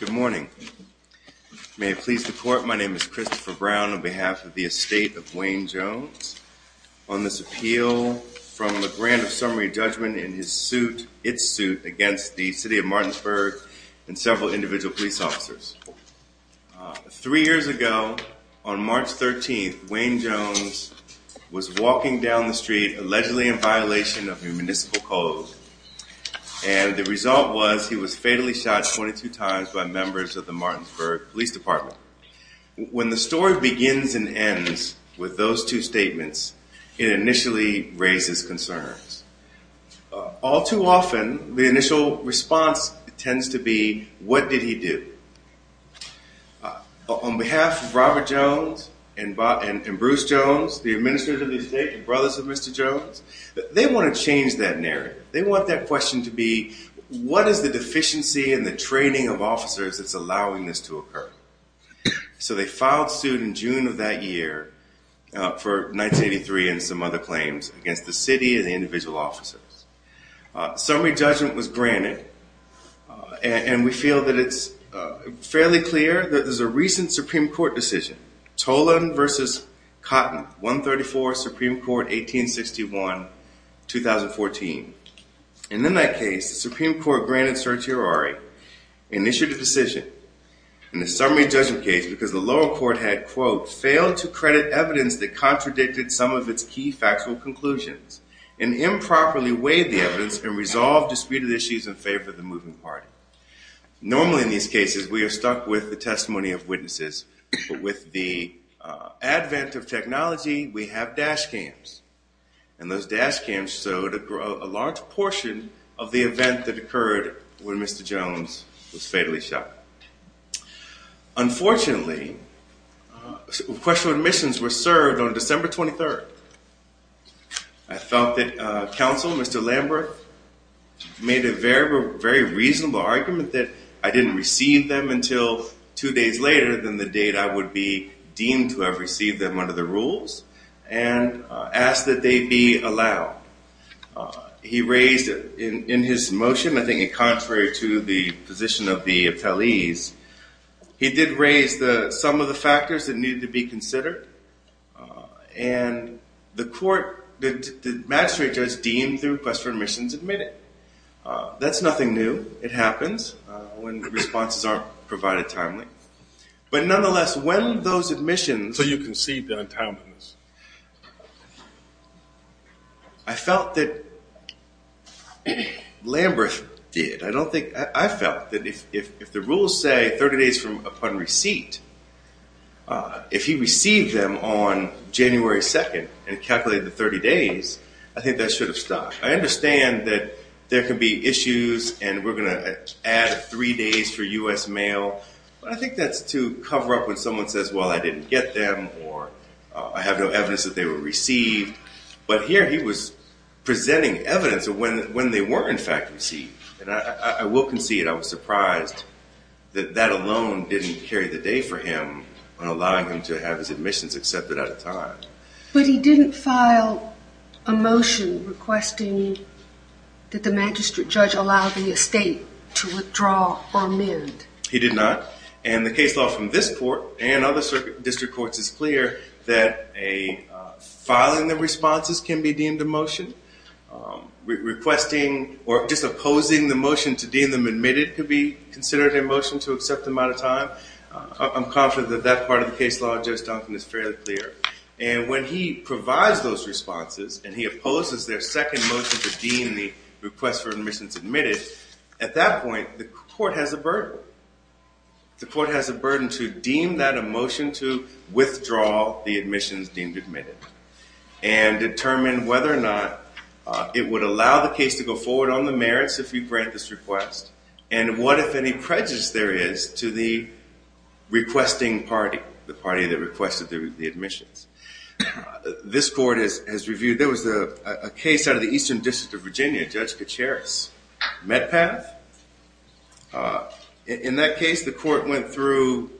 Good morning. May it please the court, my name is Christopher Brown on behalf of the estate of Wayne Jones on this appeal from the grant of summary judgment in his suit, its suit against the City of Martinsburg and several individual police officers. Three years ago on March 13th, Wayne Jones was walking down the street allegedly in violation of the municipal code and the result was he was fatally shot 22 times by members of the Martinsburg Police Department. When the story begins and ends with those two statements, it initially raises concerns. All too often the initial response tends to be, what did he do? On behalf of Robert Jones and Bruce Jones, the administrators of the estate and brothers of Mr. Jones, they want to change that narrative. They want that question to be, what is the deficiency in the training of officers that's allowing this to occur? So they filed suit in June of that year for 1983 and some other claims against the city and the individual officers. Summary judgment was granted and we feel that it's fairly clear that there's a recent Supreme Court decision, Tolan v. Cotton, 134, Supreme Court, 1861, 2014. And in that case, the Supreme Court granted certiorari and issued a decision in the summary judgment case because the lower court had, quote, failed to credit evidence that contradicted some of its key factual conclusions and improperly weighed the evidence and resolved disputed issues in favor of the moving party. Normally in these cases, we are stuck with the testimony of witnesses, but with the advent of technology, we have dash cams. And those dash cams showed a large portion of the event that occurred when Mr. Jones was fatally shot. Unfortunately, request for admissions were served on December 23rd. I felt that counsel, Mr. Lambert, made a very, very reasonable argument that I didn't receive them until two days later than the date I would be deemed to have received them under the rules and asked that they be allowed. He raised in his motion, I think in contrary to the position of the appellees, he did raise some of the factors that needed to be considered. And the court, the magistrate judge deemed the request for admissions admitted. That's nothing new. It happens when the responses aren't provided timely. But nonetheless, when those admissions- if the rules say 30 days from upon receipt, if he received them on January 2nd and calculated the 30 days, I think that should have stopped. I understand that there can be issues and we're going to add three days for U.S. mail, but I think that's to cover up when someone says, well, I didn't get them or I have no evidence that they were received. But here he was presenting evidence of when they were in fact received. And I will concede I was surprised that that alone didn't carry the day for him on allowing him to have his admissions accepted at a time. But he didn't file a motion requesting that the magistrate judge allow the estate to withdraw or amend. He did not. And the case law from this court and other district courts is clear that filing the responses can be deemed a motion. Requesting or just opposing the motion to deem them admitted could be considered a motion to accept them out of time. I'm confident that that part of the case law, Judge Duncan, is fairly clear. And when he provides those responses and he opposes their second motion to deem the request for admissions admitted, at that point the court has a burden. The court has a burden to deem that a motion to withdraw the admissions deemed admitted and determine whether or not it would allow the case to go forward on the merits if you grant this request. And what if any prejudice there is to the requesting party, the party that requested the admissions. This court has reviewed, there was a case out of the Eastern District of New York. In that case, the court went through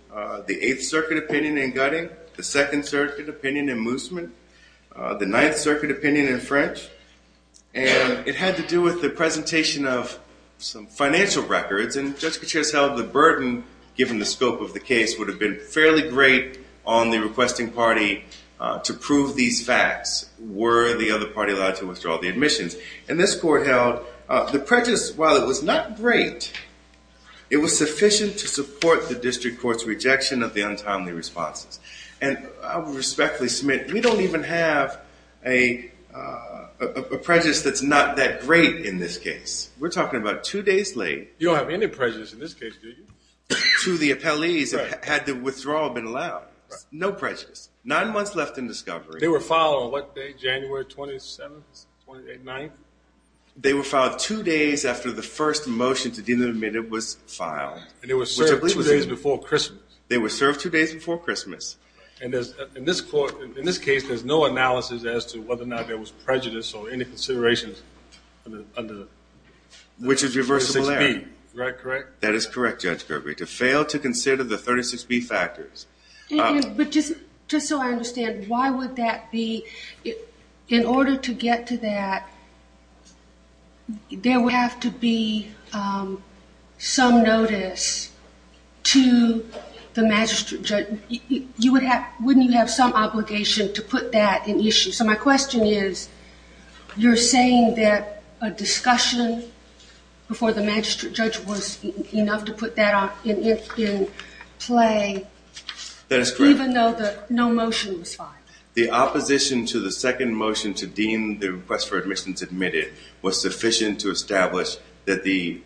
the Eighth Circuit opinion in Gutting, the Second Circuit opinion in Moosman, the Ninth Circuit opinion in French. And it had to do with the presentation of some financial records. And Judge Gutierrez held the burden, given the scope of the case, would have been fairly great on the requesting party to prove these facts. Were the other party allowed to withdraw the admissions? And this court held the prejudice, while it was not great, it was sufficient to support the district court's rejection of the untimely responses. And I respectfully submit, we don't even have a prejudice that's not that great in this case. We're talking about two days late. You don't have any prejudice in this case, do you? To the appellees that had the withdrawal been allowed. No prejudice. Nine months left in discovery. They were filed on what day, January 27th, 28th, 9th? They were filed two days after the first motion was filed. And they were served two days before Christmas. They were served two days before Christmas. And in this case, there's no analysis as to whether or not there was prejudice or any considerations under the 36B. Which is reversible error. Right, correct? That is correct, Judge Gregory. To fail to consider the 36B factors. But just so I understand, why would that be? In order to get to that, there would have to be some notice to the magistrate judge. Wouldn't you have some obligation to put that in issue? So my question is, you're saying that a discussion before the magistrate judge was enough to put that in play? That is correct. Even though that no motion was filed? The opposition to the second motion to deem the request for admissions admitted was sufficient to establish that the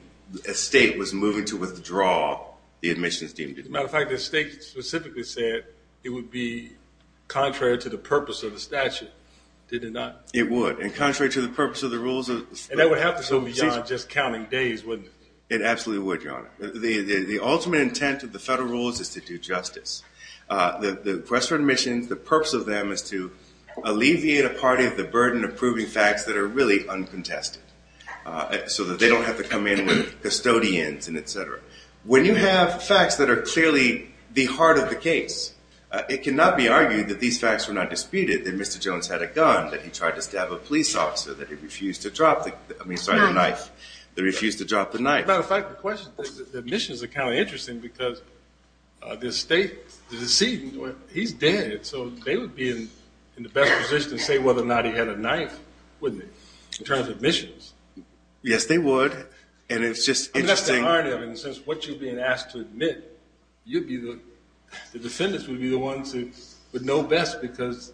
state was moving to withdraw the admissions deemed. As a matter of fact, the state specifically said it would be contrary to the purpose of the statute. Did it not? It would. And contrary to the purpose of the rules of the state. And that would have to go beyond just counting days, wouldn't it? It absolutely would, Your Honor. The ultimate intent of the federal rules is to do justice. The request for admissions, the purpose of them is to alleviate a party of the burden of proving facts that are really uncontested. So that they don't have to come in with custodians and etc. When you have facts that are clearly the heart of the case, it cannot be argued that these facts were not disputed. That Mr. Jones had a gun, that he tried to stab a police officer, that he refused to drop the knife. As a matter of fact, the admissions are kind of interesting because the state, the decedent, he's dead. So they would be in the best position to say whether or not he had a knife, wouldn't they? In terms of admissions. Yes, they would. And it's just interesting. I mean, that's the irony of it, in the sense of what you're being asked to admit, you'd be the, the defendants would be the ones who would know best. Because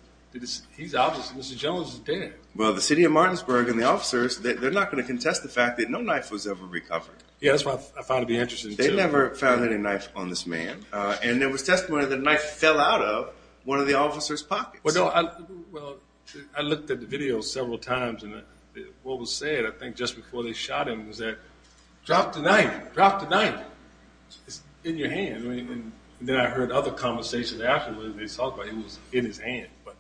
he's obviously, Mr. Jones is dead. Well, the city of Martinsburg and the officers, they're not going to contest the fact that no knife was ever recovered. Yes, that's what I find to be interesting too. They never found any knife on this man. And there was testimony that a knife fell out of one of the officer's pockets. Well, I looked at the video several times and what was said, I think just before they shot him, was that, drop the knife, drop the knife. It's in your hand. And then I heard other conversations afterwards and they talked about it was in his hand. But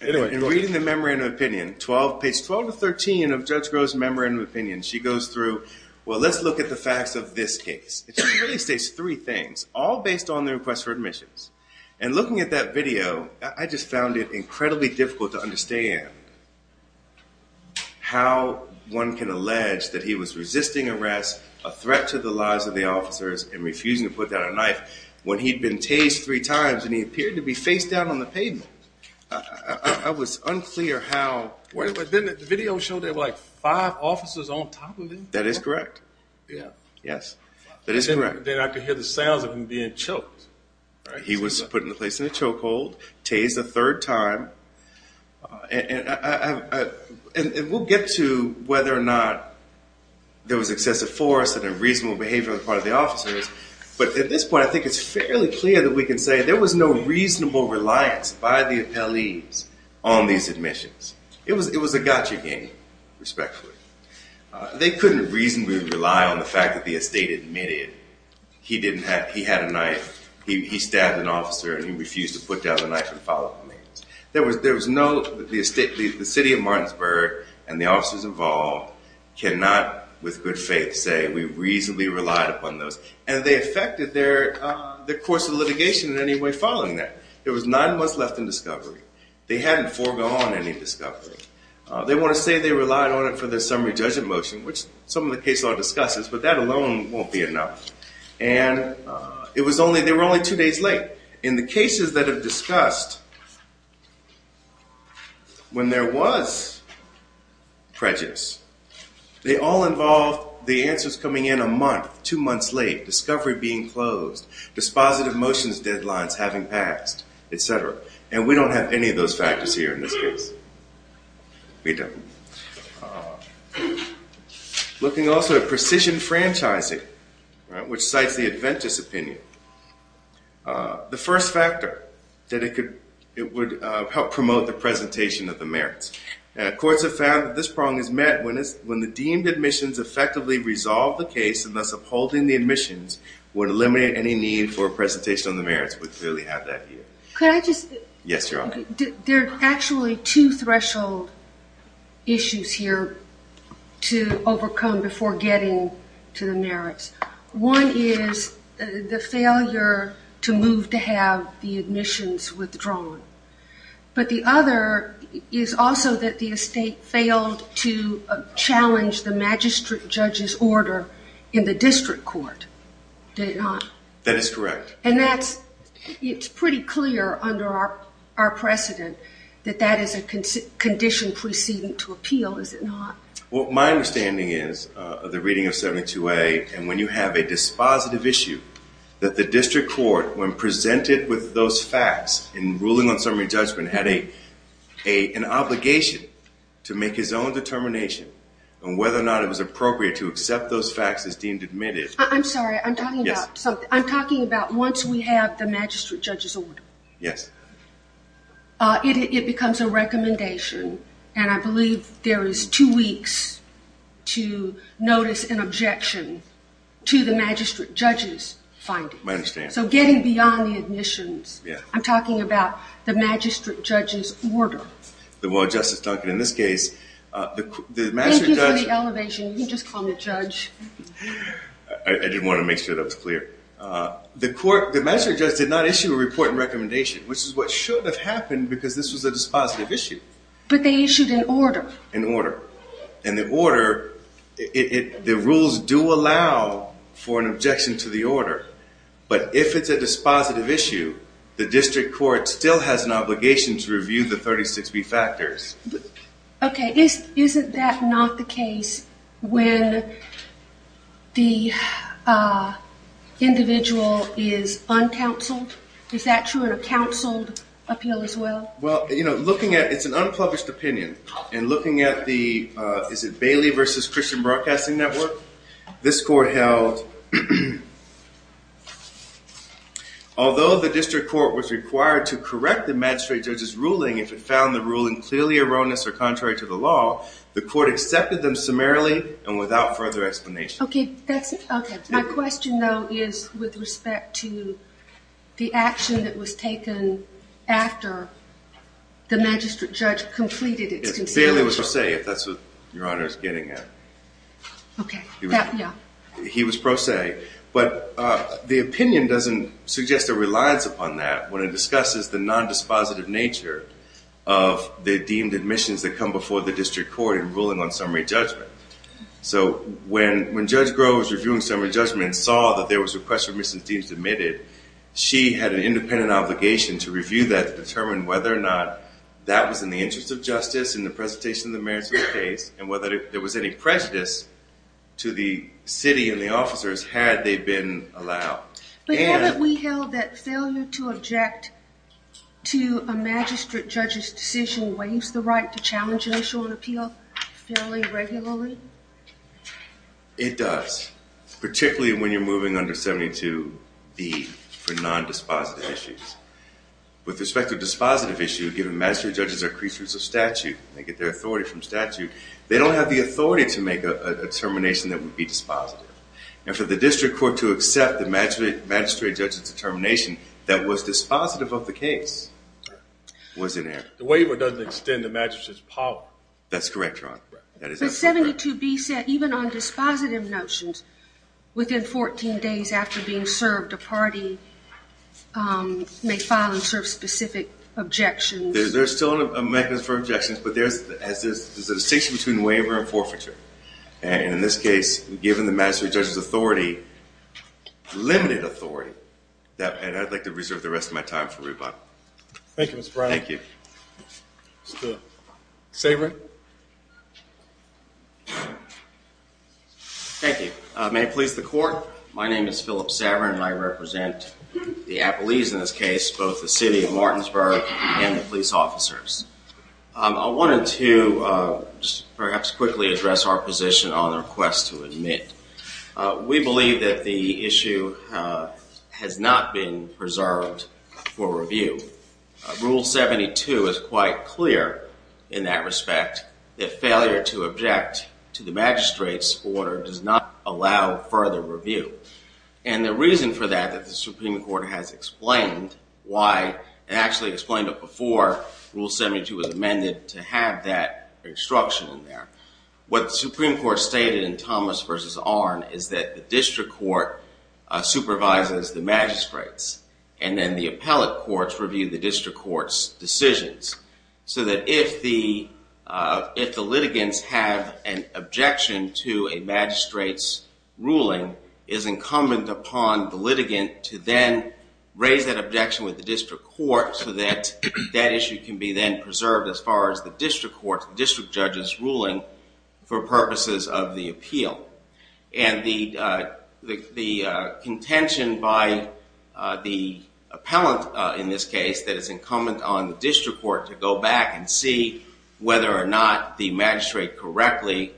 anyway. In reading the memorandum of opinion, 12, page 12 to 13 of Judge Groh's memorandum of opinion, she goes through, well, let's look at the facts of this case. It really states three things, all based on the request for admissions. And looking at that video, I just found it incredibly difficult to understand how one can allege that he was resisting arrest, a threat to the lives of the officers and refusing to put down a knife when he'd been tased three times and he appeared to be face down on the pavement. I was unclear how... But didn't the video show there were like five officers on top of him? That is correct. Yeah. Yes, that is correct. Then I could hear the sounds of him being choked. He was put in a place in a chokehold, tased a third time. And we'll get to whether or not there was excessive force and unreasonable behavior on the part of the officers. But at this point, I think it's fairly clear that we can say there was no reasonable reliance by the appellees on these admissions. It was a gotcha game, respectfully. They couldn't reasonably rely on the fact that the estate admitted he had a knife. He stabbed an officer and he refused to put down the knife and follow up on it. There was no... The city of Martinsburg and the officers involved cannot, with good faith, say we reasonably relied upon those. And they affected their course of litigation in any way following that. There was nine months left in discovery. They hadn't foregone any discovery. They want to say they relied on it for their summary judgment motion, which some of the case law discusses, but that alone won't be enough. In cases that have discussed when there was prejudice, they all involve the answers coming in a month, two months late, discovery being closed, dispositive motions deadlines having passed, etc. And we don't have any of those factors here in this case. We don't. Looking also at precision franchising, which cites the Adventist opinion, the first factor that it would help promote the presentation of the merits. Courts have found that this problem is met when the deemed admissions effectively resolve the case and thus upholding the admissions would eliminate any need for a presentation on the merits. We clearly have that here. Could I just... Yes, Your Honor. There are actually two threshold issues here to overcome before getting to the merits. One is the failure to move to have the admissions withdrawn. But the other is also that the estate failed to challenge the magistrate judge's order in the district court. Did it not? That is correct. And that's, it's pretty clear under our precedent that that is a condition proceeding to appeal, is it not? Well, my understanding is of the reading of 72A and when you have a dispositive issue that the district court, when presented with those facts in ruling on summary judgment, had an obligation to make his own determination on whether or not it was appropriate to accept those facts as deemed admitted. I'm sorry, I'm talking about once we have the magistrate judge's order. Yes. It becomes a recommendation and I believe there is two weeks to notice an objection to the magistrate judge's findings. I understand. So getting beyond the admissions, I'm talking about the magistrate judge's order. Well, Justice Duncan, in this case, the magistrate judge... Thank you for the elevation. You can The court, the magistrate judge did not issue a report and recommendation, which is what should have happened because this was a dispositive issue. But they issued an order. An order. And the order, the rules do allow for an objection to the order. But if it's a dispositive issue, the district court still has an obligation to review the 36B factors. Okay. Isn't that not the case when the individual is uncounseled? Is that true in a counseled appeal as well? Well, you know, looking at, it's an unpublished opinion and looking at the, is it Bailey versus Christian Broadcasting Network? This court held, although the district court was required to correct the magistrate judge's ruling, if it found the ruling clearly erroneous or contrary to the law, the court accepted them summarily and without further explanation. Okay. That's it. Okay. My question though, is with respect to the action that was taken after the magistrate judge completed its... Bailey was pro se, if that's what your honor is getting at. Okay. He was pro se, but the opinion doesn't suggest a reliance upon that when it discusses the non-dispositive nature of the deemed admissions that come before the district court in ruling on summary judgment. So when Judge Grove was reviewing summary judgment and saw that there was a request for admissions deemed admitted, she had an independent obligation to review that to determine whether or not that was in the interest of justice in the presentation of the merits of the case and whether there was any prejudice to the city and the officers had they been allowed. But haven't we held that failure to object to a magistrate judge's decision waives the right to challenge an issue on appeal fairly regularly? It does, particularly when you're moving under 72B for non-dispositive issues. With respect to a dispositive issue, given magistrate judges are creatures of statute, they get their authority from statute, they don't have the authority to accept the magistrate judge's determination that was dispositive of the case. The waiver doesn't extend the magistrate's power. That's correct, your honor. But 72B said even on dispositive notions, within 14 days after being served, a party may file and serve specific objections. There's still a mechanism for objections, but there's a distinction between waiver and forfeiture. And in this case, given the magistrate judge's authority, limited authority, and I'd like to reserve the rest of my time for rebuttal. Thank you, Mr. Brown. Thank you. Saverin. Thank you. May it please the court, my name is Philip Saverin and I represent the appellees in this case, both the city of Martinsburg and the police officers. I wanted to perhaps quickly address our position on the request to admit. We believe that the issue has not been preserved for review. Rule 72 is quite clear in that respect, that failure to object to the magistrate's order does not allow further review. And the reason for that, that the Supreme Court stated in Thomas v. Arnn, is that the district court supervises the magistrates, and then the appellate courts review the district court's decisions. So that if the litigants have an objection to a magistrate's ruling, it is incumbent upon the litigant to then raise that objection with the district court so that that issue can be then preserved as far as the district judge's ruling for purposes of the appeal. And the contention by the appellant in this case that is incumbent on the district court to go back and see whether or not the magistrate correctly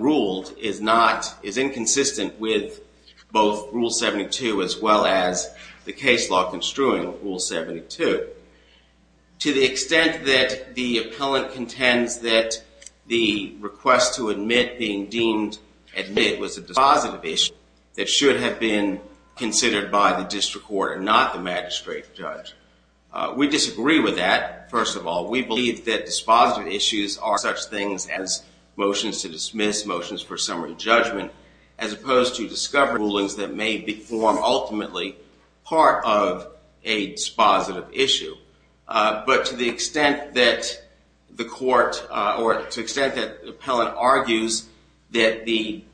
ruled is not, is inconsistent with both Rule 72 as well as the case law construing Rule 72. To the extent that the appellant contends that the request to admit being deemed admit was a dispositive issue that should have been considered by the district court and not the magistrate judge. We disagree with that, first of all. We believe that dispositive issues are such things as motions to dismiss, motions for summary judgment, as opposed to discovery rulings that may form ultimately part of a dispositive issue. But to the extent that the court, or to the extent that the appellant argues that the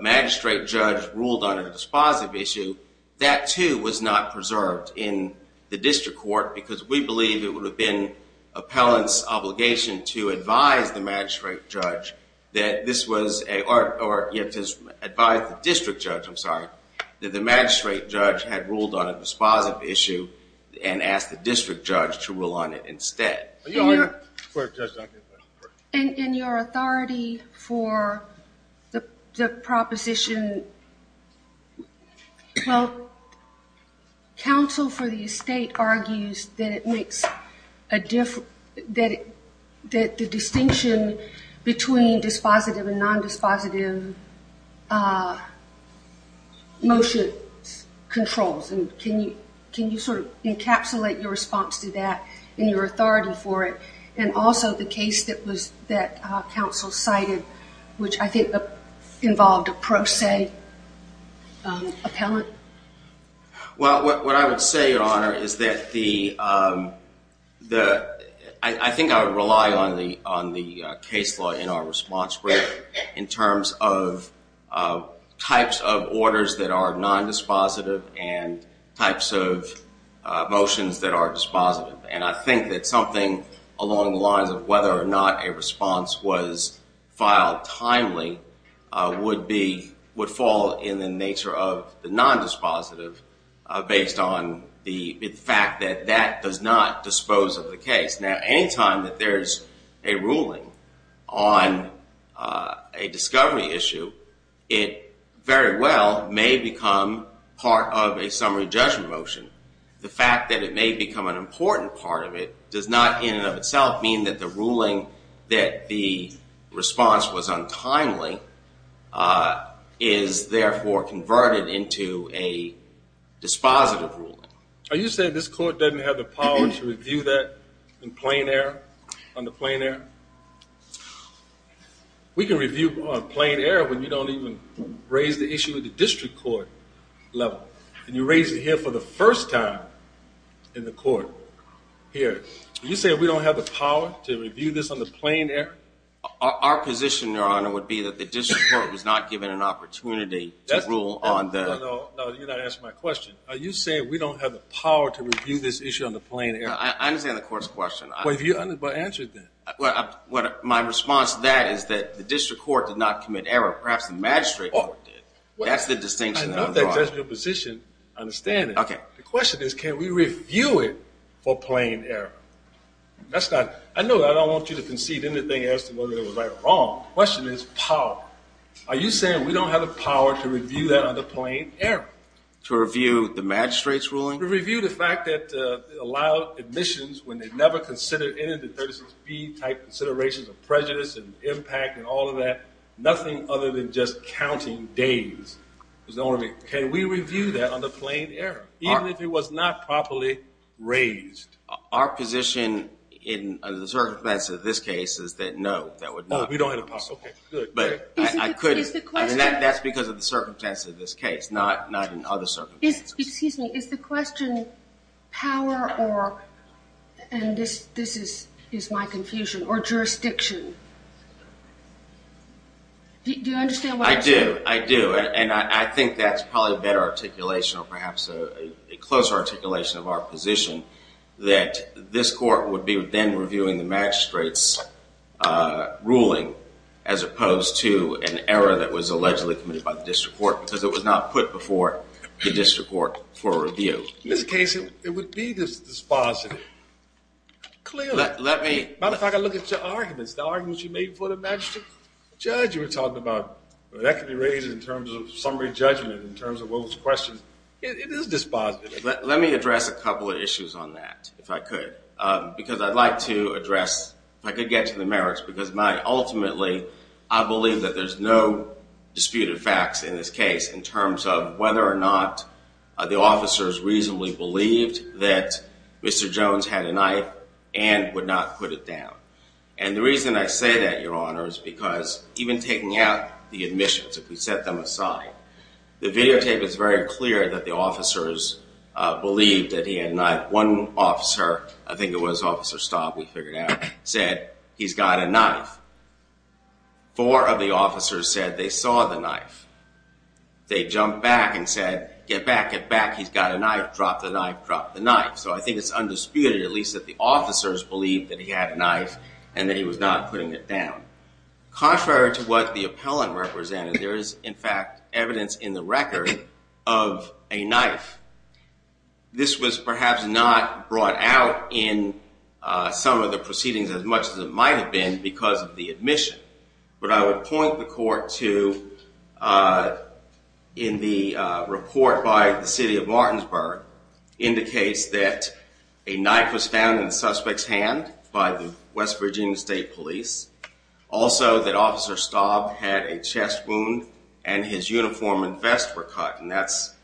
magistrate judge ruled on a dispositive issue, that too was not preserved in the district court because we believe it would have been appellant's obligation to advise the magistrate judge that this was a, or to advise the district judge, I'm sorry, that the magistrate judge had ruled on a dispositive issue and asked the district judge to rule on it instead. And your authority for the proposition, well, counsel for the estate argues that it makes a difference, that the distinction between dispositive and non-dispositive motion controls. And can you sort of encapsulate your response to that in your authority for it? And also the case that was, that counsel cited, which I think involved a pro se appellant? Well, what I would say, your honor, is that the, the, I think I would rely on the, on the case law in our response in terms of types of orders that are non-dispositive and types of motions that are dispositive. And I think that something along the lines of whether or not a response was filed timely would be, would fall in the nature of the non-dispositive based on the fact that that does not dispose of the case. Now, anytime that there's a ruling on a discovery issue, it very well may become part of a summary judgment motion. The fact that it may become an important part of it does not in and of itself mean that the ruling that the response was untimely is therefore converted into a dispositive ruling. Are you saying this court doesn't have the power to review that in plain air, on the plain air? We can review on plain air when you don't even raise the issue at the district court level. And you raise it here for the first time in the court here. You say we don't have the power to review this on the plain air? Our position, your honor, would be that the district court was not given an opportunity to rule on the... No, no, you're not answering my question. Are you saying we don't have the power to review this issue on the plain air? I understand the court's question. Well, if you answered that. Well, my response to that is that the district court did not commit error. Perhaps the magistrate court did. That's the distinction that I'm drawing. I know that's your position. I understand it. Okay. The question is can we review it for plain error? That's not... I know that I don't want you to concede anything as to whether it was right or wrong. Question is power. Are you saying we don't have the power to review that on the plain air? To review the magistrate's ruling? To review the fact that allowed admissions when they've never considered the 36B type considerations of prejudice and impact and all of that? Nothing other than just counting days is the only... Can we review that on the plain air? Even if it was not properly raised? Our position in the circumstances of this case is that no, that would not... Oh, we don't have the power. Okay, good. But I couldn't... That's because of the circumstances of this case, not in other circumstances. Excuse me. Is the question power or, and this is my confusion, or jurisdiction? Do you understand what I'm saying? I do. I do. And I think that's probably a better articulation or perhaps a closer articulation of our position that this court would be then reviewing the magistrate's ruling as opposed to an error that was allegedly committed by the district court because it was not put before the district court for review. In this case, it would be dispositive. Clearly. Let me... Matter of fact, I look at your arguments, the arguments you made for the magistrate judge you were talking about. That could be raised in terms of summary judgment, in terms of those questions. It is dispositive. Let me address a couple of issues on that, if I could, because I'd like to address, if I could get to the merits, because my, ultimately, I believe that there's no disputed facts in this case in terms of whether or not the officers reasonably believed that Mr. Jones had a knife and would not put it down. And the reason I say that, your honor, is because even taking out the admissions, if we set them aside, the videotape is very clear that the officers believed that he had a knife. One officer, I think it was officer Stott, we figured out, said he's got a knife. Four of the officers said they saw the knife. They jumped back and said, get back, get back, he's got a knife, drop the knife, drop the knife. So I think it's undisputed, at least, that the officers believed that he had a knife and that he was not putting it down. Contrary to what the appellant represented, there is, in fact, evidence in the record of a knife. This was perhaps not brought out in some of the proceedings as much as it might have been because of the admission. But I would point the court to, in the report by the city of Martinsburg, indicates that a knife was found in the suspect's hand by the West Virginia State Police. Also that officer Staub had a chest wound and his uniform and vest were cut, and that's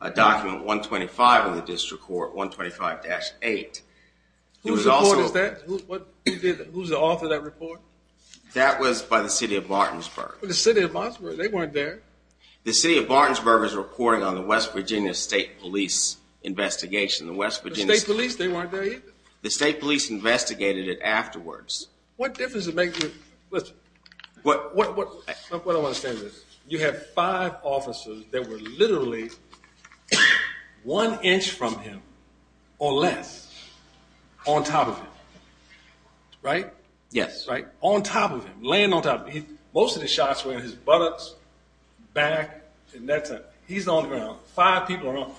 a document 125 in the district court, 125-8. Who's the author of that report? That was by the city of Martinsburg. The city of Martinsburg, they weren't there. The city of Martinsburg is reporting on the West Virginia State Police investigation. The West Virginia State Police, they weren't there either? The State Police investigated it afterwards. What difference does it make? What I want to say is this, you have five officers that were literally one inch from him or less on top of him, right? Yes. On top of him, laying on top of him. Most of the shots were in his buttocks, back, and that's it. He's on the ground. Five people are on him.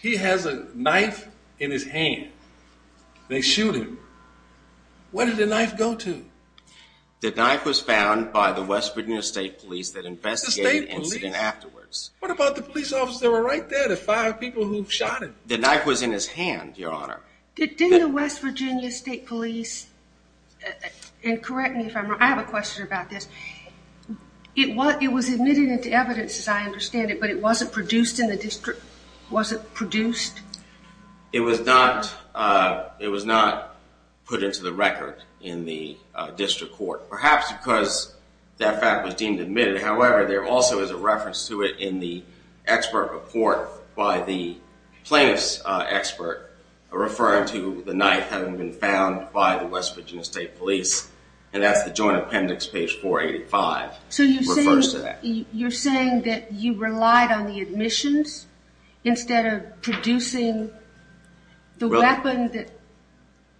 He has a knife in his hand. They shoot him. Where did the knife go to? The knife was found by the West Virginia State Police that investigated the incident afterwards. What about the police officer? They were right there, the five people who shot him. The knife was in his hand, Your Honor. Didn't the West Virginia State Police, and correct me if I'm wrong, I have a question about this, it was admitted into evidence as I understand it, but it wasn't produced in the district court, perhaps because that fact was deemed admitted. However, there also is a reference to it in the expert report by the plaintiff's expert referring to the knife having been found by the West Virginia State Police, and that's the Joint Appendix, page 485. So you're saying that you relied on the admissions instead of producing the weapon?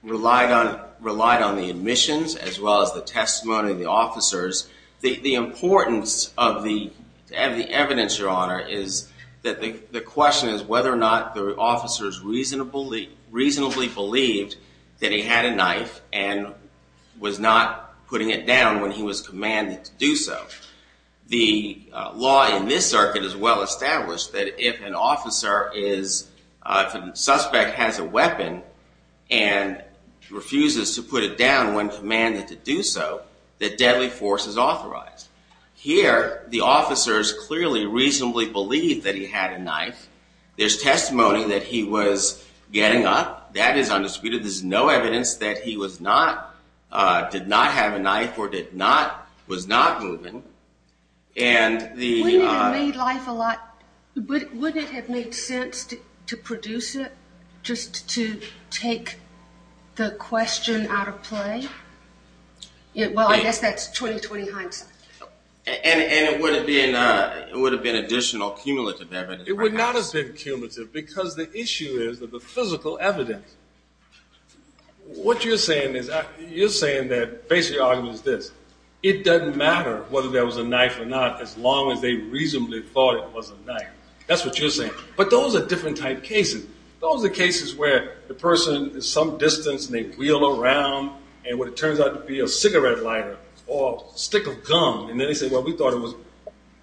Relied on the admissions as well as the testimony of the officers. The importance of the evidence, Your Honor, is that the question is whether or not the officers reasonably believed that he had a knife and was not putting it down when he was commanded to do so. The law in this circuit is well established that if an officer is, if a suspect has a weapon and refuses to put it down when commanded to do so, that deadly force is authorized. Here, the officers clearly reasonably believed that he had a knife. There's testimony that he was getting up. That is undisputed. There's no evidence that he was not, did not have a knife or did not, was not moving. Wouldn't it have made sense to produce it just to take the question out of play? Well, I guess that's 20-20 hindsight. And it would have been additional cumulative evidence. It would not have been cumulative because the issue is that the physical evidence. What you're saying is, you're saying that basically the argument is this. It doesn't matter whether there was a knife or not as long as they reasonably thought it was a knife. That's what you're saying. But those are different type cases. Those are cases where the person is some distance and they wheel around and what it turns out to be a cigarette lighter or stick of gum and then they say, well, we thought it was.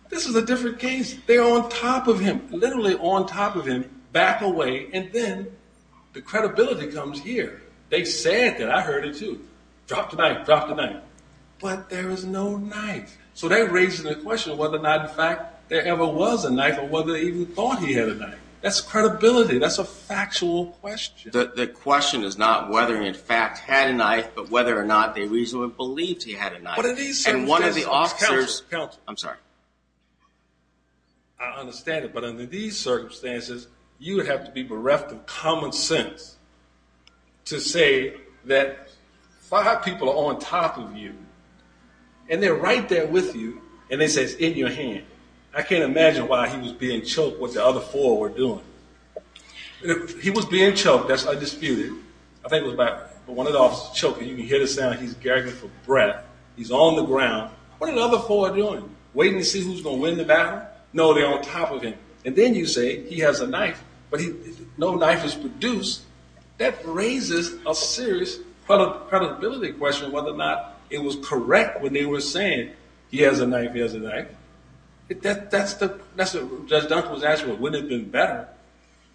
This is a different case. They're literally on top of him, back away. And then the credibility comes here. They said that I heard it too. Drop the knife, drop the knife. But there was no knife. So that raises the question of whether or not in fact there ever was a knife or whether they even thought he had a knife. That's credibility. That's a factual question. The question is not whether he in fact had a knife, but whether or not they reasonably believed he had a knife. I'm sorry. I understand it. But under these circumstances, you would have to be bereft of common sense to say that five people are on top of you and they're right there with you and they say it's in your hand. I can't imagine why he was being choked what the other four were doing. If he was being choked, that's undisputed. I think it was a fact. He's on the ground. What are the other four doing? Waiting to see who's going to win the battle? No, they're on top of him. And then you say he has a knife, but no knife is produced. That raises a serious credibility question whether or not it was correct when they were saying he has a knife, he has a knife. That's what Judge Dunford was asking. Wouldn't it have been better?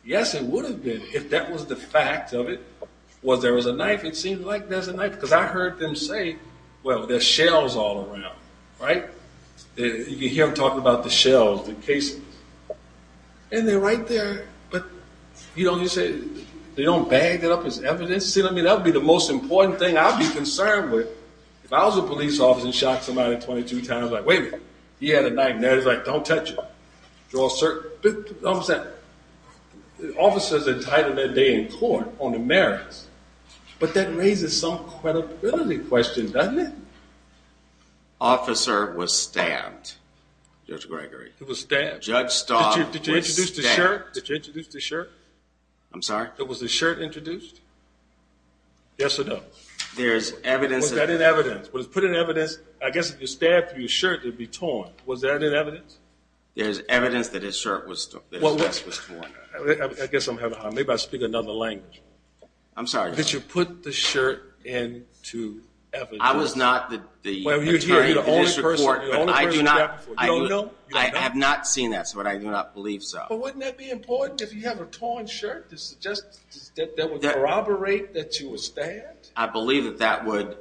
Yes, it would have been if that was the fact of it, was there was a knife. It seems like there's a knife because I heard them say, well, there's shells all around, right? You can hear him talking about the shells, the cases, and they're right there. But you don't just say, they don't bag it up as evidence. I mean, that would be the most important thing I'd be concerned with. If I was a police officer and shot somebody 22 times, I'd be like, wait a minute, he had a knife. He's like, don't touch it. But the officer's entitled that day in court on the merits. But that raises some credibility question, doesn't it? Officer was stabbed, Judge Gregory. It was stabbed. Judge Staub was stabbed. Did you introduce the shirt? I'm sorry? Was the shirt introduced? Yes or no? There's evidence. Was that in evidence? Was it put in evidence? I guess if you stabbed through your shirt, it'd be torn. Was that in evidence? There's evidence that his shirt was torn. I guess I'm having a hard time. Maybe I speak another language. I'm sorry? That you put the shirt into evidence. I was not the attorney for this report, but I have not seen that, so I do not believe so. But wouldn't that be important if you have a torn shirt that would corroborate that you were stabbed? I believe that that would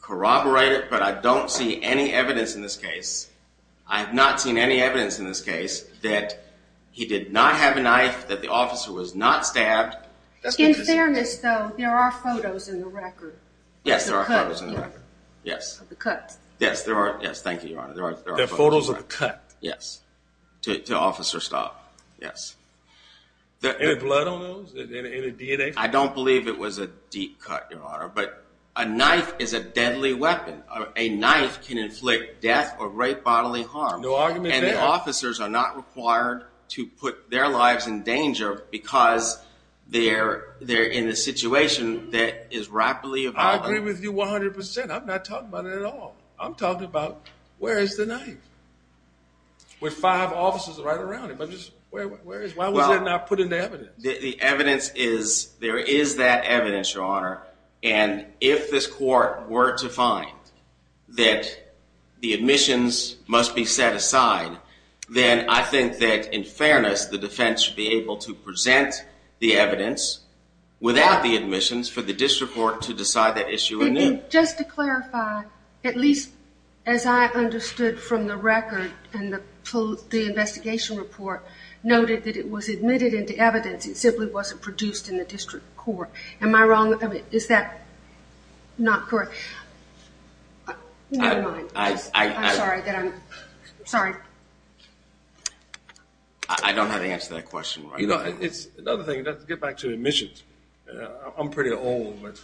corroborate it, but I don't see any evidence in this case. I have not seen any evidence in this case that he did not have a knife, that the officer was not stabbed. In fairness, though, there are photos in the record. Yes, there are photos in the record. Yes. Of the cut. Yes, there are. Yes, thank you, Your Honor. There are photos of the cut. Yes, to Officer Staub. Yes. Any blood on those? Any DNA? I don't believe it was a deep cut, Your Honor, but a knife is a deadly weapon. A knife can inflict death or rape bodily harm. No argument there. And the officers are not required to put their lives in danger because they're in a situation that is rapidly evolving. I agree with you 100 percent. I'm not talking about it at all. I'm talking about where is the knife? With five officers right around him. Where is it? Why was it not put into evidence? The evidence is, there is that evidence, Your Honor, and if this court were to find that the admissions must be set aside, then I think that in fairness the defense should be able to present the evidence without the admissions for the district court to decide that issue anew. Just to clarify, at least as I understood from the record and the investigation report, noted that it was admitted into evidence, it simply wasn't produced in the district court. Am I wrong? I mean, is that not correct? Never mind. I'm sorry. I don't have the answer to that question right now. You know, it's another thing, to get back to admissions, I'm pretty old, but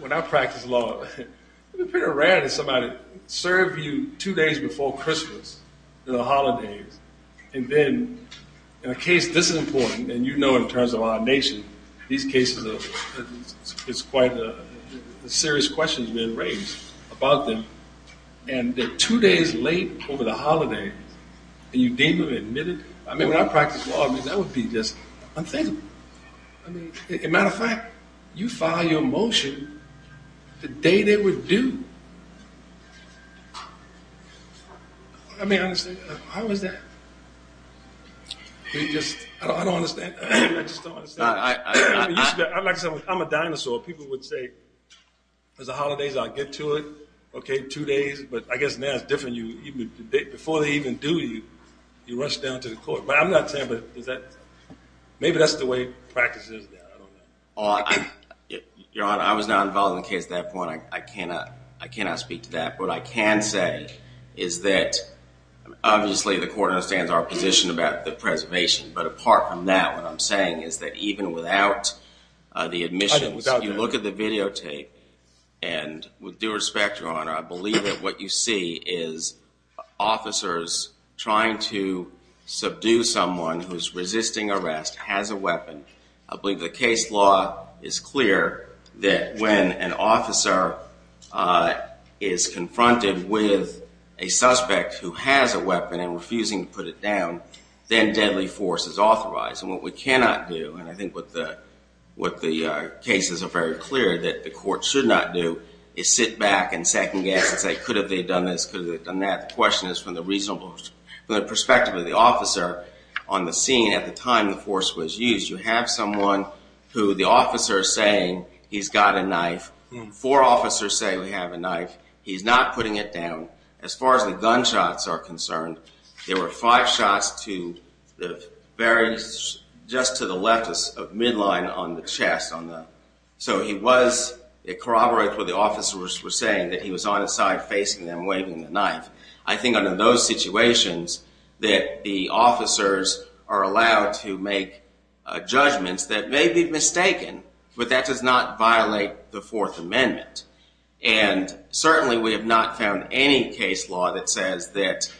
when I practice law, it's pretty rare that somebody serve you two days before Christmas, the holidays, and then in a case this important, and you know in terms of our nation, these cases, it's quite a serious question has been raised about them, and they're two days late over the holidays, and you deem them admitted? I mean, that would be just unthinkable. I mean, as a matter of fact, you file your motion the day they were due. I mean, honestly, how is that? I just don't understand. I'm a dinosaur. People would say there's the holidays, I'll get to it, okay, two days, but I guess now it's different. Before they even do, you rush down to the court, but I'm not saying, but is that, maybe that's the way practice is now. I don't know. Your Honor, I was not involved in the case at that point. I cannot speak to that, but what I can say is that obviously the court understands our position about the preservation, but apart from that, what I'm saying is that even without the admissions, you look at the videotape, and with due respect, Your Honor, I believe that what you see is officers trying to subdue someone who's resisting arrest, has a weapon. I believe the case law is clear that when an officer is confronted with a suspect who has a weapon and refusing to put it down, then deadly force is authorized, and what we cannot do, and I think what the cases are very clear that the court should not do is sit back and second guess and say, could have they done this, could have they done that. The question is from the perspective of the officer on the scene at the time the force was used. You have someone who the officer is saying he's got a knife. Four officers say we have a knife. He's not putting it down. As far as the gunshots are concerned, there were five shots to the very, just to the left of midline on the chest. So it corroborates what the officers were saying, that he was on his side facing them, waving the knife. I think under those situations that the officers are allowed to make judgments that may be mistaken, but that does not violate the Fourth Amendment, and certainly we have not found any case law that says that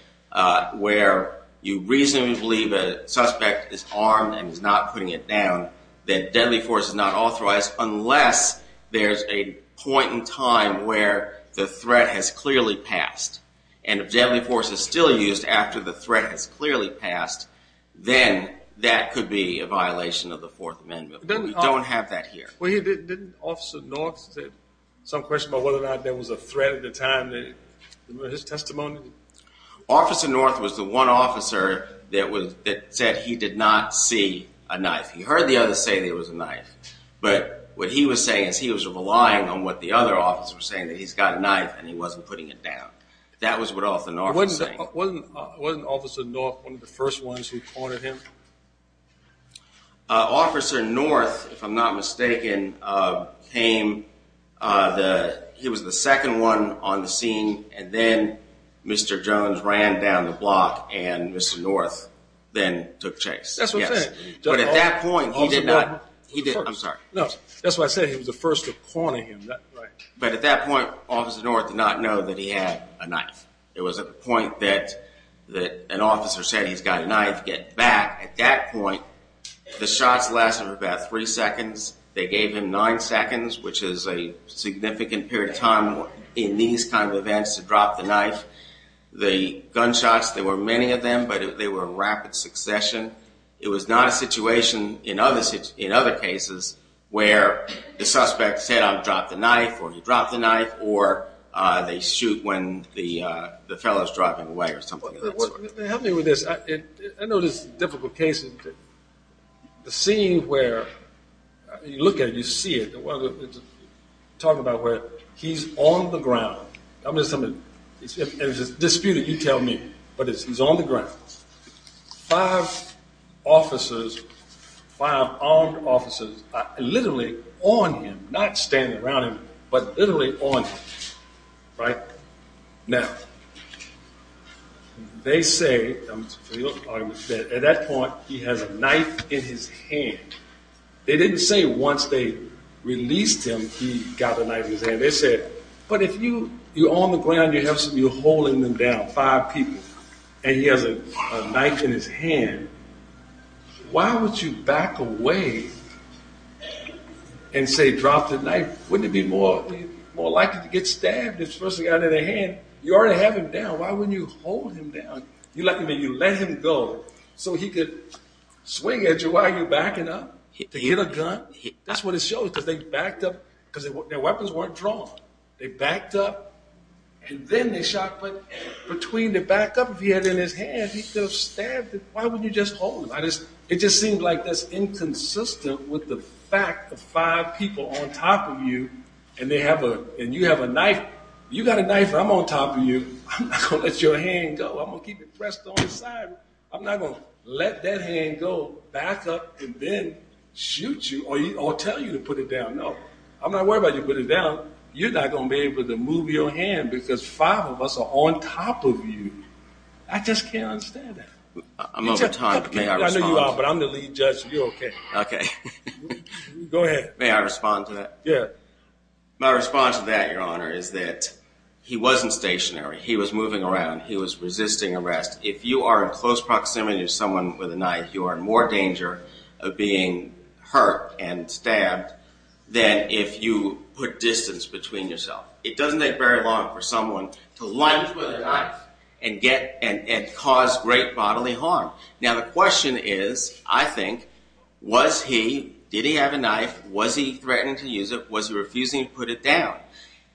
where you reasonably believe a suspect is armed and is not putting it down, then deadly force is not authorized unless there's a point in time where the threat has clearly passed, and if deadly force is still used after the threat has clearly passed, then that could be a violation of the Fourth Amendment. We don't have that here. Well, didn't Officer North say some question about whether or not there was a threat at the time, his testimony? Officer North was the one officer that said he did not see a knife. He heard the others say there was a knife, but what he was saying is he was relying on what the other officers were saying, that he's got a knife and he wasn't putting it down. That was what Officer North was saying. Wasn't Officer North one of the first ones who cornered him? Officer North, if I'm not mistaken, came, he was the second one on the scene, and then Mr. Jones ran down the block and Mr. North then took chase. That's what I'm saying. But at that point, he did not... I'm sorry. No, that's what I said. He was the first to corner him. But at that point, Officer North did not know that he had a knife. It was at the point that an officer said he's got a knife, get back. At that point, the shots lasted for about three seconds. They gave him nine seconds, which is a significant period of time in these kinds of drop the knife. The gunshots, there were many of them, but they were rapid succession. It was not a situation in other cases where the suspect said, I've dropped the knife, or he dropped the knife, or they shoot when the fellow's driving away or something. Help me with this. I know this difficult case. The scene where you look at it, you see it, talk about where he's on the ground. I'm just telling you, it's disputed, you tell me, but he's on the ground. Five officers, five armed officers are literally on him, not standing around him, but literally on him, right? Now, they say, at that point, he has a knife in his hand. They didn't say once they released him, he got a knife in his hand. They said, but if you're on the ground, you're holding them down, five people, and he has a knife in his hand, why would you back away and say drop the knife? Wouldn't it be more likely to get stabbed, especially out of the hand? You already have him down. Why wouldn't you hold him down? You let him go so he could swing at you while you're because their weapons weren't drawn. They backed up, and then they shot, but between the backup he had in his hand, he could have stabbed him. Why wouldn't you just hold him? It just seemed like that's inconsistent with the fact of five people on top of you, and you have a knife. You got a knife. I'm on top of you. I'm not going to let your hand go. I'm going to keep it pressed on the side. I'm not going to let that hand go, back up, and then shoot you or tell you to put it down. No, I'm not worried about you put it down. You're not going to be able to move your hand because five of us are on top of you. I just can't understand that. I'm over time. I know you are, but I'm the lead judge. You're okay. Okay. Go ahead. May I respond to that? Yeah. My response to that, your honor, is that he wasn't stationary. He was moving around. He was resisting arrest. If you are in close proximity to someone with a knife, you are in more danger of being hurt and stabbed than if you put distance between yourself. It doesn't take very long for someone to lunge with a knife and cause great bodily harm. Now, the question is, I think, was he, did he have a knife? Was he threatening to use it? Was he refusing to put it down?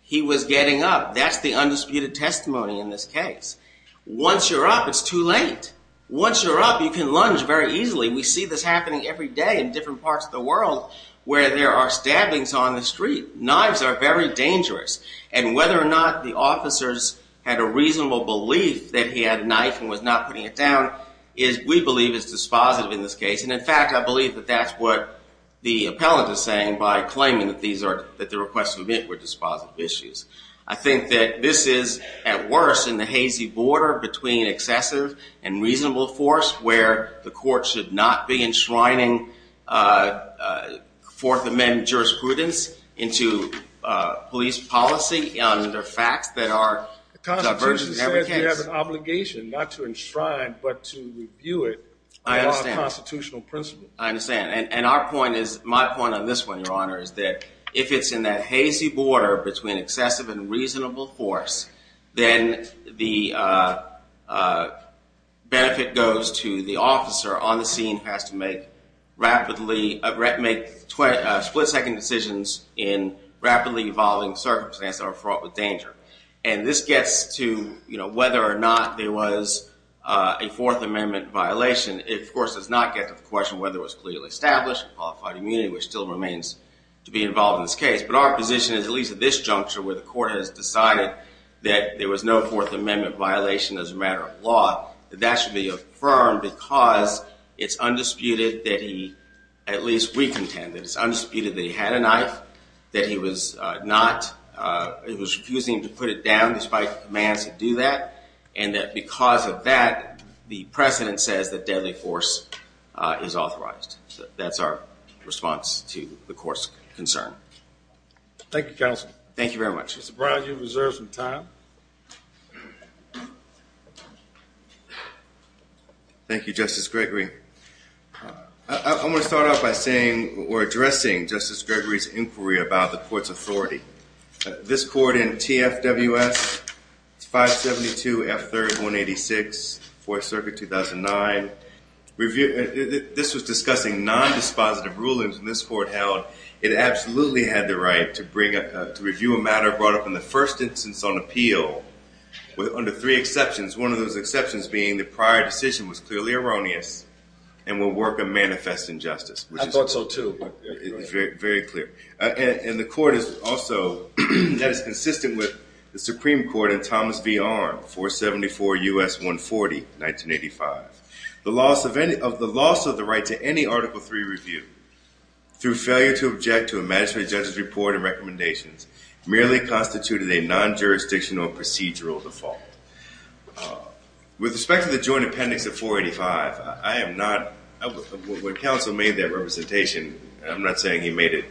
He was getting up. That's the undisputed testimony in this case. Once you're up, it's too late. Once you're up, you can lunge very easily. We see this every day in different parts of the world where there are stabbings on the street. Knives are very dangerous. And whether or not the officers had a reasonable belief that he had a knife and was not putting it down is, we believe, is dispositive in this case. And in fact, I believe that that's what the appellant is saying by claiming that the requests were dispositive issues. I think that this is, at worst, in the hazy border between excessive and reasonable force where the court should not be enshrining Fourth Amendment jurisprudence into police policy under facts that are divergent. The Constitution said you have an obligation not to enshrine, but to review it. I understand. It's not a constitutional principle. I understand. And our point is, my point on this one, Your Honor, is that if it's in that hazy border between excessive and reasonable force, then the benefit goes to the officer on the scene who has to make split-second decisions in rapidly evolving circumstances that are fraught with danger. And this gets to whether or not there was a Fourth Amendment violation. It, of course, does not get to the question of whether it was clearly established and qualified immunity, which still remains to be involved in this case. But our position is, at least at this juncture, where the court has decided that there was no Fourth Amendment violation as a matter of law, that that should be affirmed because it's undisputed that he, at least we contend, that it's undisputed that he had a knife, that he was refusing to put it down despite commands to do that, and that because of that, the precedent says that deadly force is authorized. That's our response to the court's concern. Thank you, counsel. Thank you very much. Mr. Brown, you have reserved some time. Thank you, Justice Gregory. I want to start off by saying or addressing Justice Gregory's inquiry about the court's authority. This court in TFWS 572 F3rd 186, Fourth Circuit 2009, this was discussing non-dispositive rulings, and this court held it absolutely had the right to review a matter brought up in the first instance on appeal under three exceptions, one of those exceptions being the prior decision was clearly erroneous and would work a manifest injustice. I thought so, too. Very clear. And the court is also, that is consistent with the Supreme Court in Thomas v. Arnn 474 U.S. 140, 1985. The loss of the right to any Article III review through failure to object to a magistrate judge's report and recommendations merely constituted a non-jurisdictional procedural default. With respect to the joint appendix of 485, I am not, when counsel made that representation, I'm not saying he made it,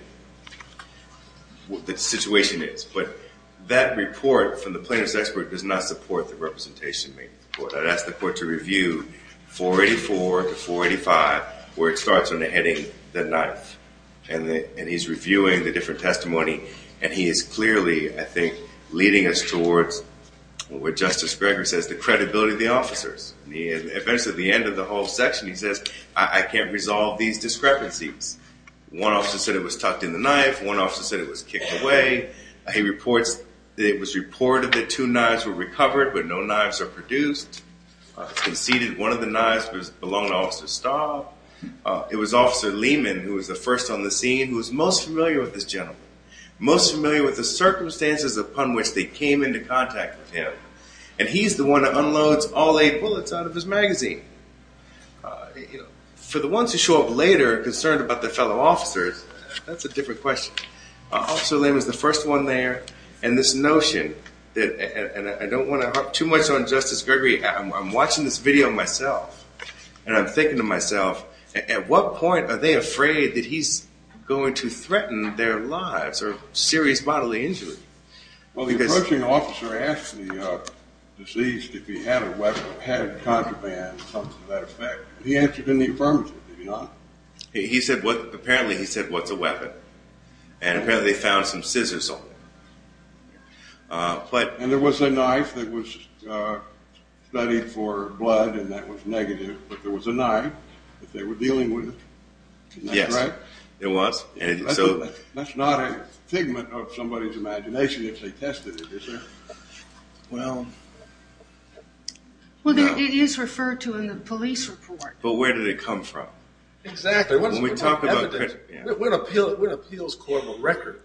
what the situation is, but that report from the plaintiff's expert does not support the representation made. I'd ask the court to review 484 to 485, where it starts on the heading, the knife. And he's reviewing the different testimony, and he is clearly, I think, leading us towards what Justice Greger says, the credibility of the officers. Eventually, at the end of the whole section, he says, I can't resolve these discrepancies. One officer said it was tucked in the knife, one officer said it was kicked away. He reports that it was reported that two knives were recovered, but no knives are produced. Conceded one of the knives belonged to Officer Stahl. It was Officer Lehman, who was the first on the scene, who was most familiar with this gentleman, most familiar with the circumstances upon which they came into contact with him. And he's the one that unloads all eight bullets out of his magazine. For the ones who show up later, concerned about their fellow officers, that's a different question. Officer Lehman was the first one there, and this notion, and I don't want to harp too much on Justice Greger, I'm watching this video myself, and I'm thinking to myself, at what point are they afraid that he's going to threaten their lives or serious bodily injury? Well, the approaching officer asked the deceased if he had a weapon, had a contraband, something to that effect. He answered in the affirmative, did he not? Apparently, he said, what's a weapon? And apparently, they found some scissors on him. And there was a knife that was studied for blood, and that was negative, but there was a knife that they were dealing with. Yes, there was. That's not a figment of somebody's imagination if they tested it, is there? Well, it is referred to in the police report. But where did it come from? Exactly. When we talk about evidence, what appeals court of record?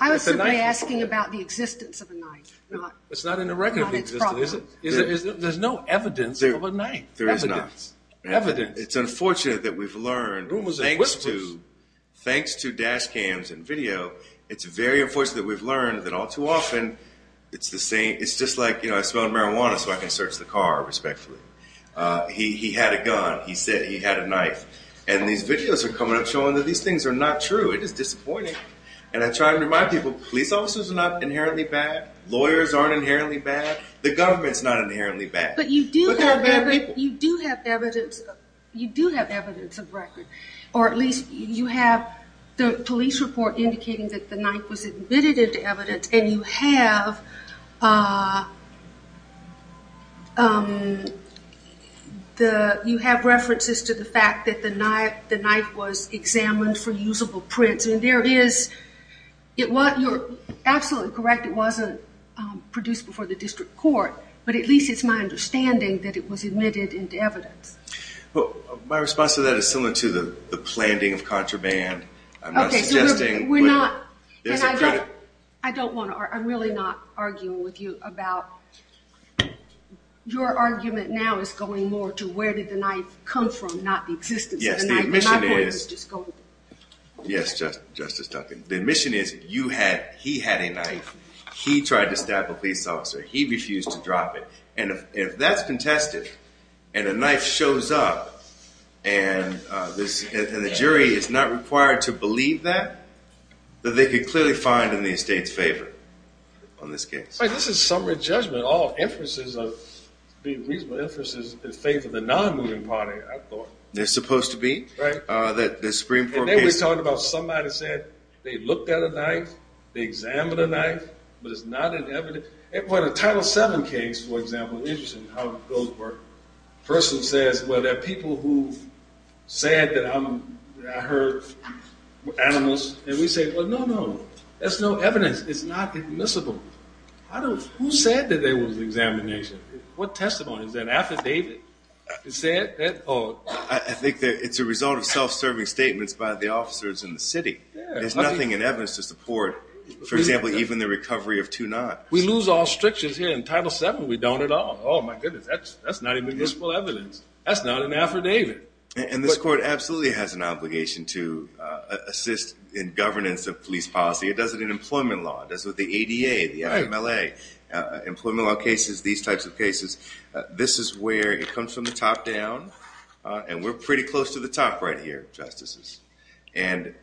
I was simply asking about the existence of a knife. It's not in the record of existence. There's no evidence of a knife. There is not. Evidence. It's unfortunate that we've learned, thanks to dash cams and video, it's very unfortunate that we've learned that all too often, it's the same, it's just like, I smoked marijuana so I can search the car, respectfully. He had a gun. He said he had a knife. And these videos are coming up showing that these things are not true. It is disappointing. And I try to remind people, police officers are not inherently bad. Lawyers aren't inherently bad. The government's not inherently bad. But there are bad people. You do have evidence of record, or at least you have the police report indicating that the knife was admitted into evidence, and you have references to the fact that the knife was examined for usable prints. You're absolutely correct, it wasn't produced before the district court. But at least it's my understanding that it was admitted into evidence. My response to that is similar to the planting of contraband. I'm not suggesting... I'm really not arguing with you about... Your argument now is going more to where did the knife come from, not the existence of the knife. Yes, the admission is... Yes, Justice Duncan. The admission is, he had a knife, he tried to stab a police officer, he refused to drop it. And if that's contested, and a knife shows up, and the jury is not required to believe that, that they could clearly find in the estate's favor on this case. This is summary judgment, all inferences of... Reasonable inferences in faith of the non-moving party, I thought. They're supposed to be. That the Supreme Court case... And then we talked about somebody said they looked at a knife, they examined a knife, but it's not an evidence... What a Title VII case, for example, interesting how it goes where a person says, well, there are people who said that I heard animals, and we say, well, no, no, that's no evidence, it's not admissible. Who said that there was examination? What testimony? Is that affidavit? Is that all? I think that it's a result of self-serving statements by the officers in the city. There's nothing in evidence to support, for example, even the recovery of two knives. We lose all strictures here in Title VII, we don't at all. Oh my goodness, that's not admissible evidence. That's not an affidavit. And this court absolutely has an obligation to assist in governance of police policy. It does it in employment law, it does it with the ADA, the IMLA, employment law cases, these types of cases. This is where it comes from the top down, and we're pretty close to the top right here, justices. And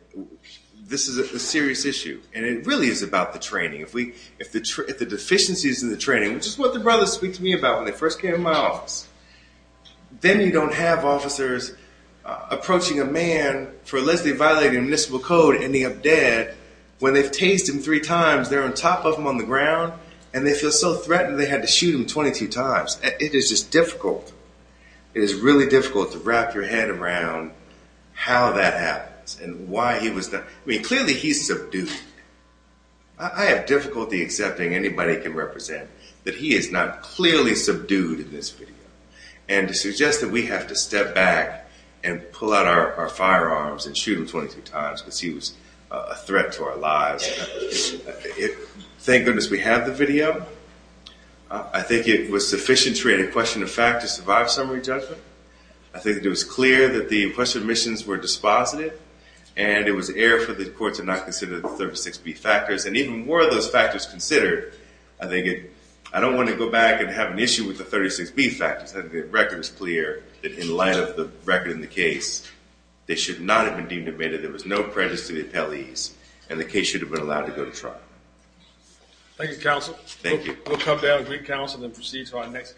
this is a serious issue, and it really is about the training. If the deficiencies in the training, which is what the brothers speak to me about when they first came to my office, then you don't have officers approaching a man for allegedly violating municipal code, ending up dead, when they've tased him three times, they're on top of him on the ground, and they feel so threatened they had to shoot him 22 times. It is just difficult. It is really difficult to wrap your head around how that happens, and why he was done. I mean, clearly he's subdued. I have difficulty accepting anybody can represent that he is not clearly subdued in this video, and to suggest that we have to step back and pull out our firearms and shoot him 22 times because he was a threat to our lives. Thank goodness we have the video. I think it was sufficient to create a question of fact to survive summary judgment. I think it was clear that the question of omissions were dispositive, and it was air for the court to not consider the 36B factors, and even more of those factors considered, I don't want to go back and have an issue with the 36B factors. I think the record is clear that in light of the record in the case, they should not have been deemed admitted. There was no prejudice to the appellees, and the case should have been allowed to go to trial. Thank you, counsel. Thank you. We'll come down with your counsel and proceed to our next case.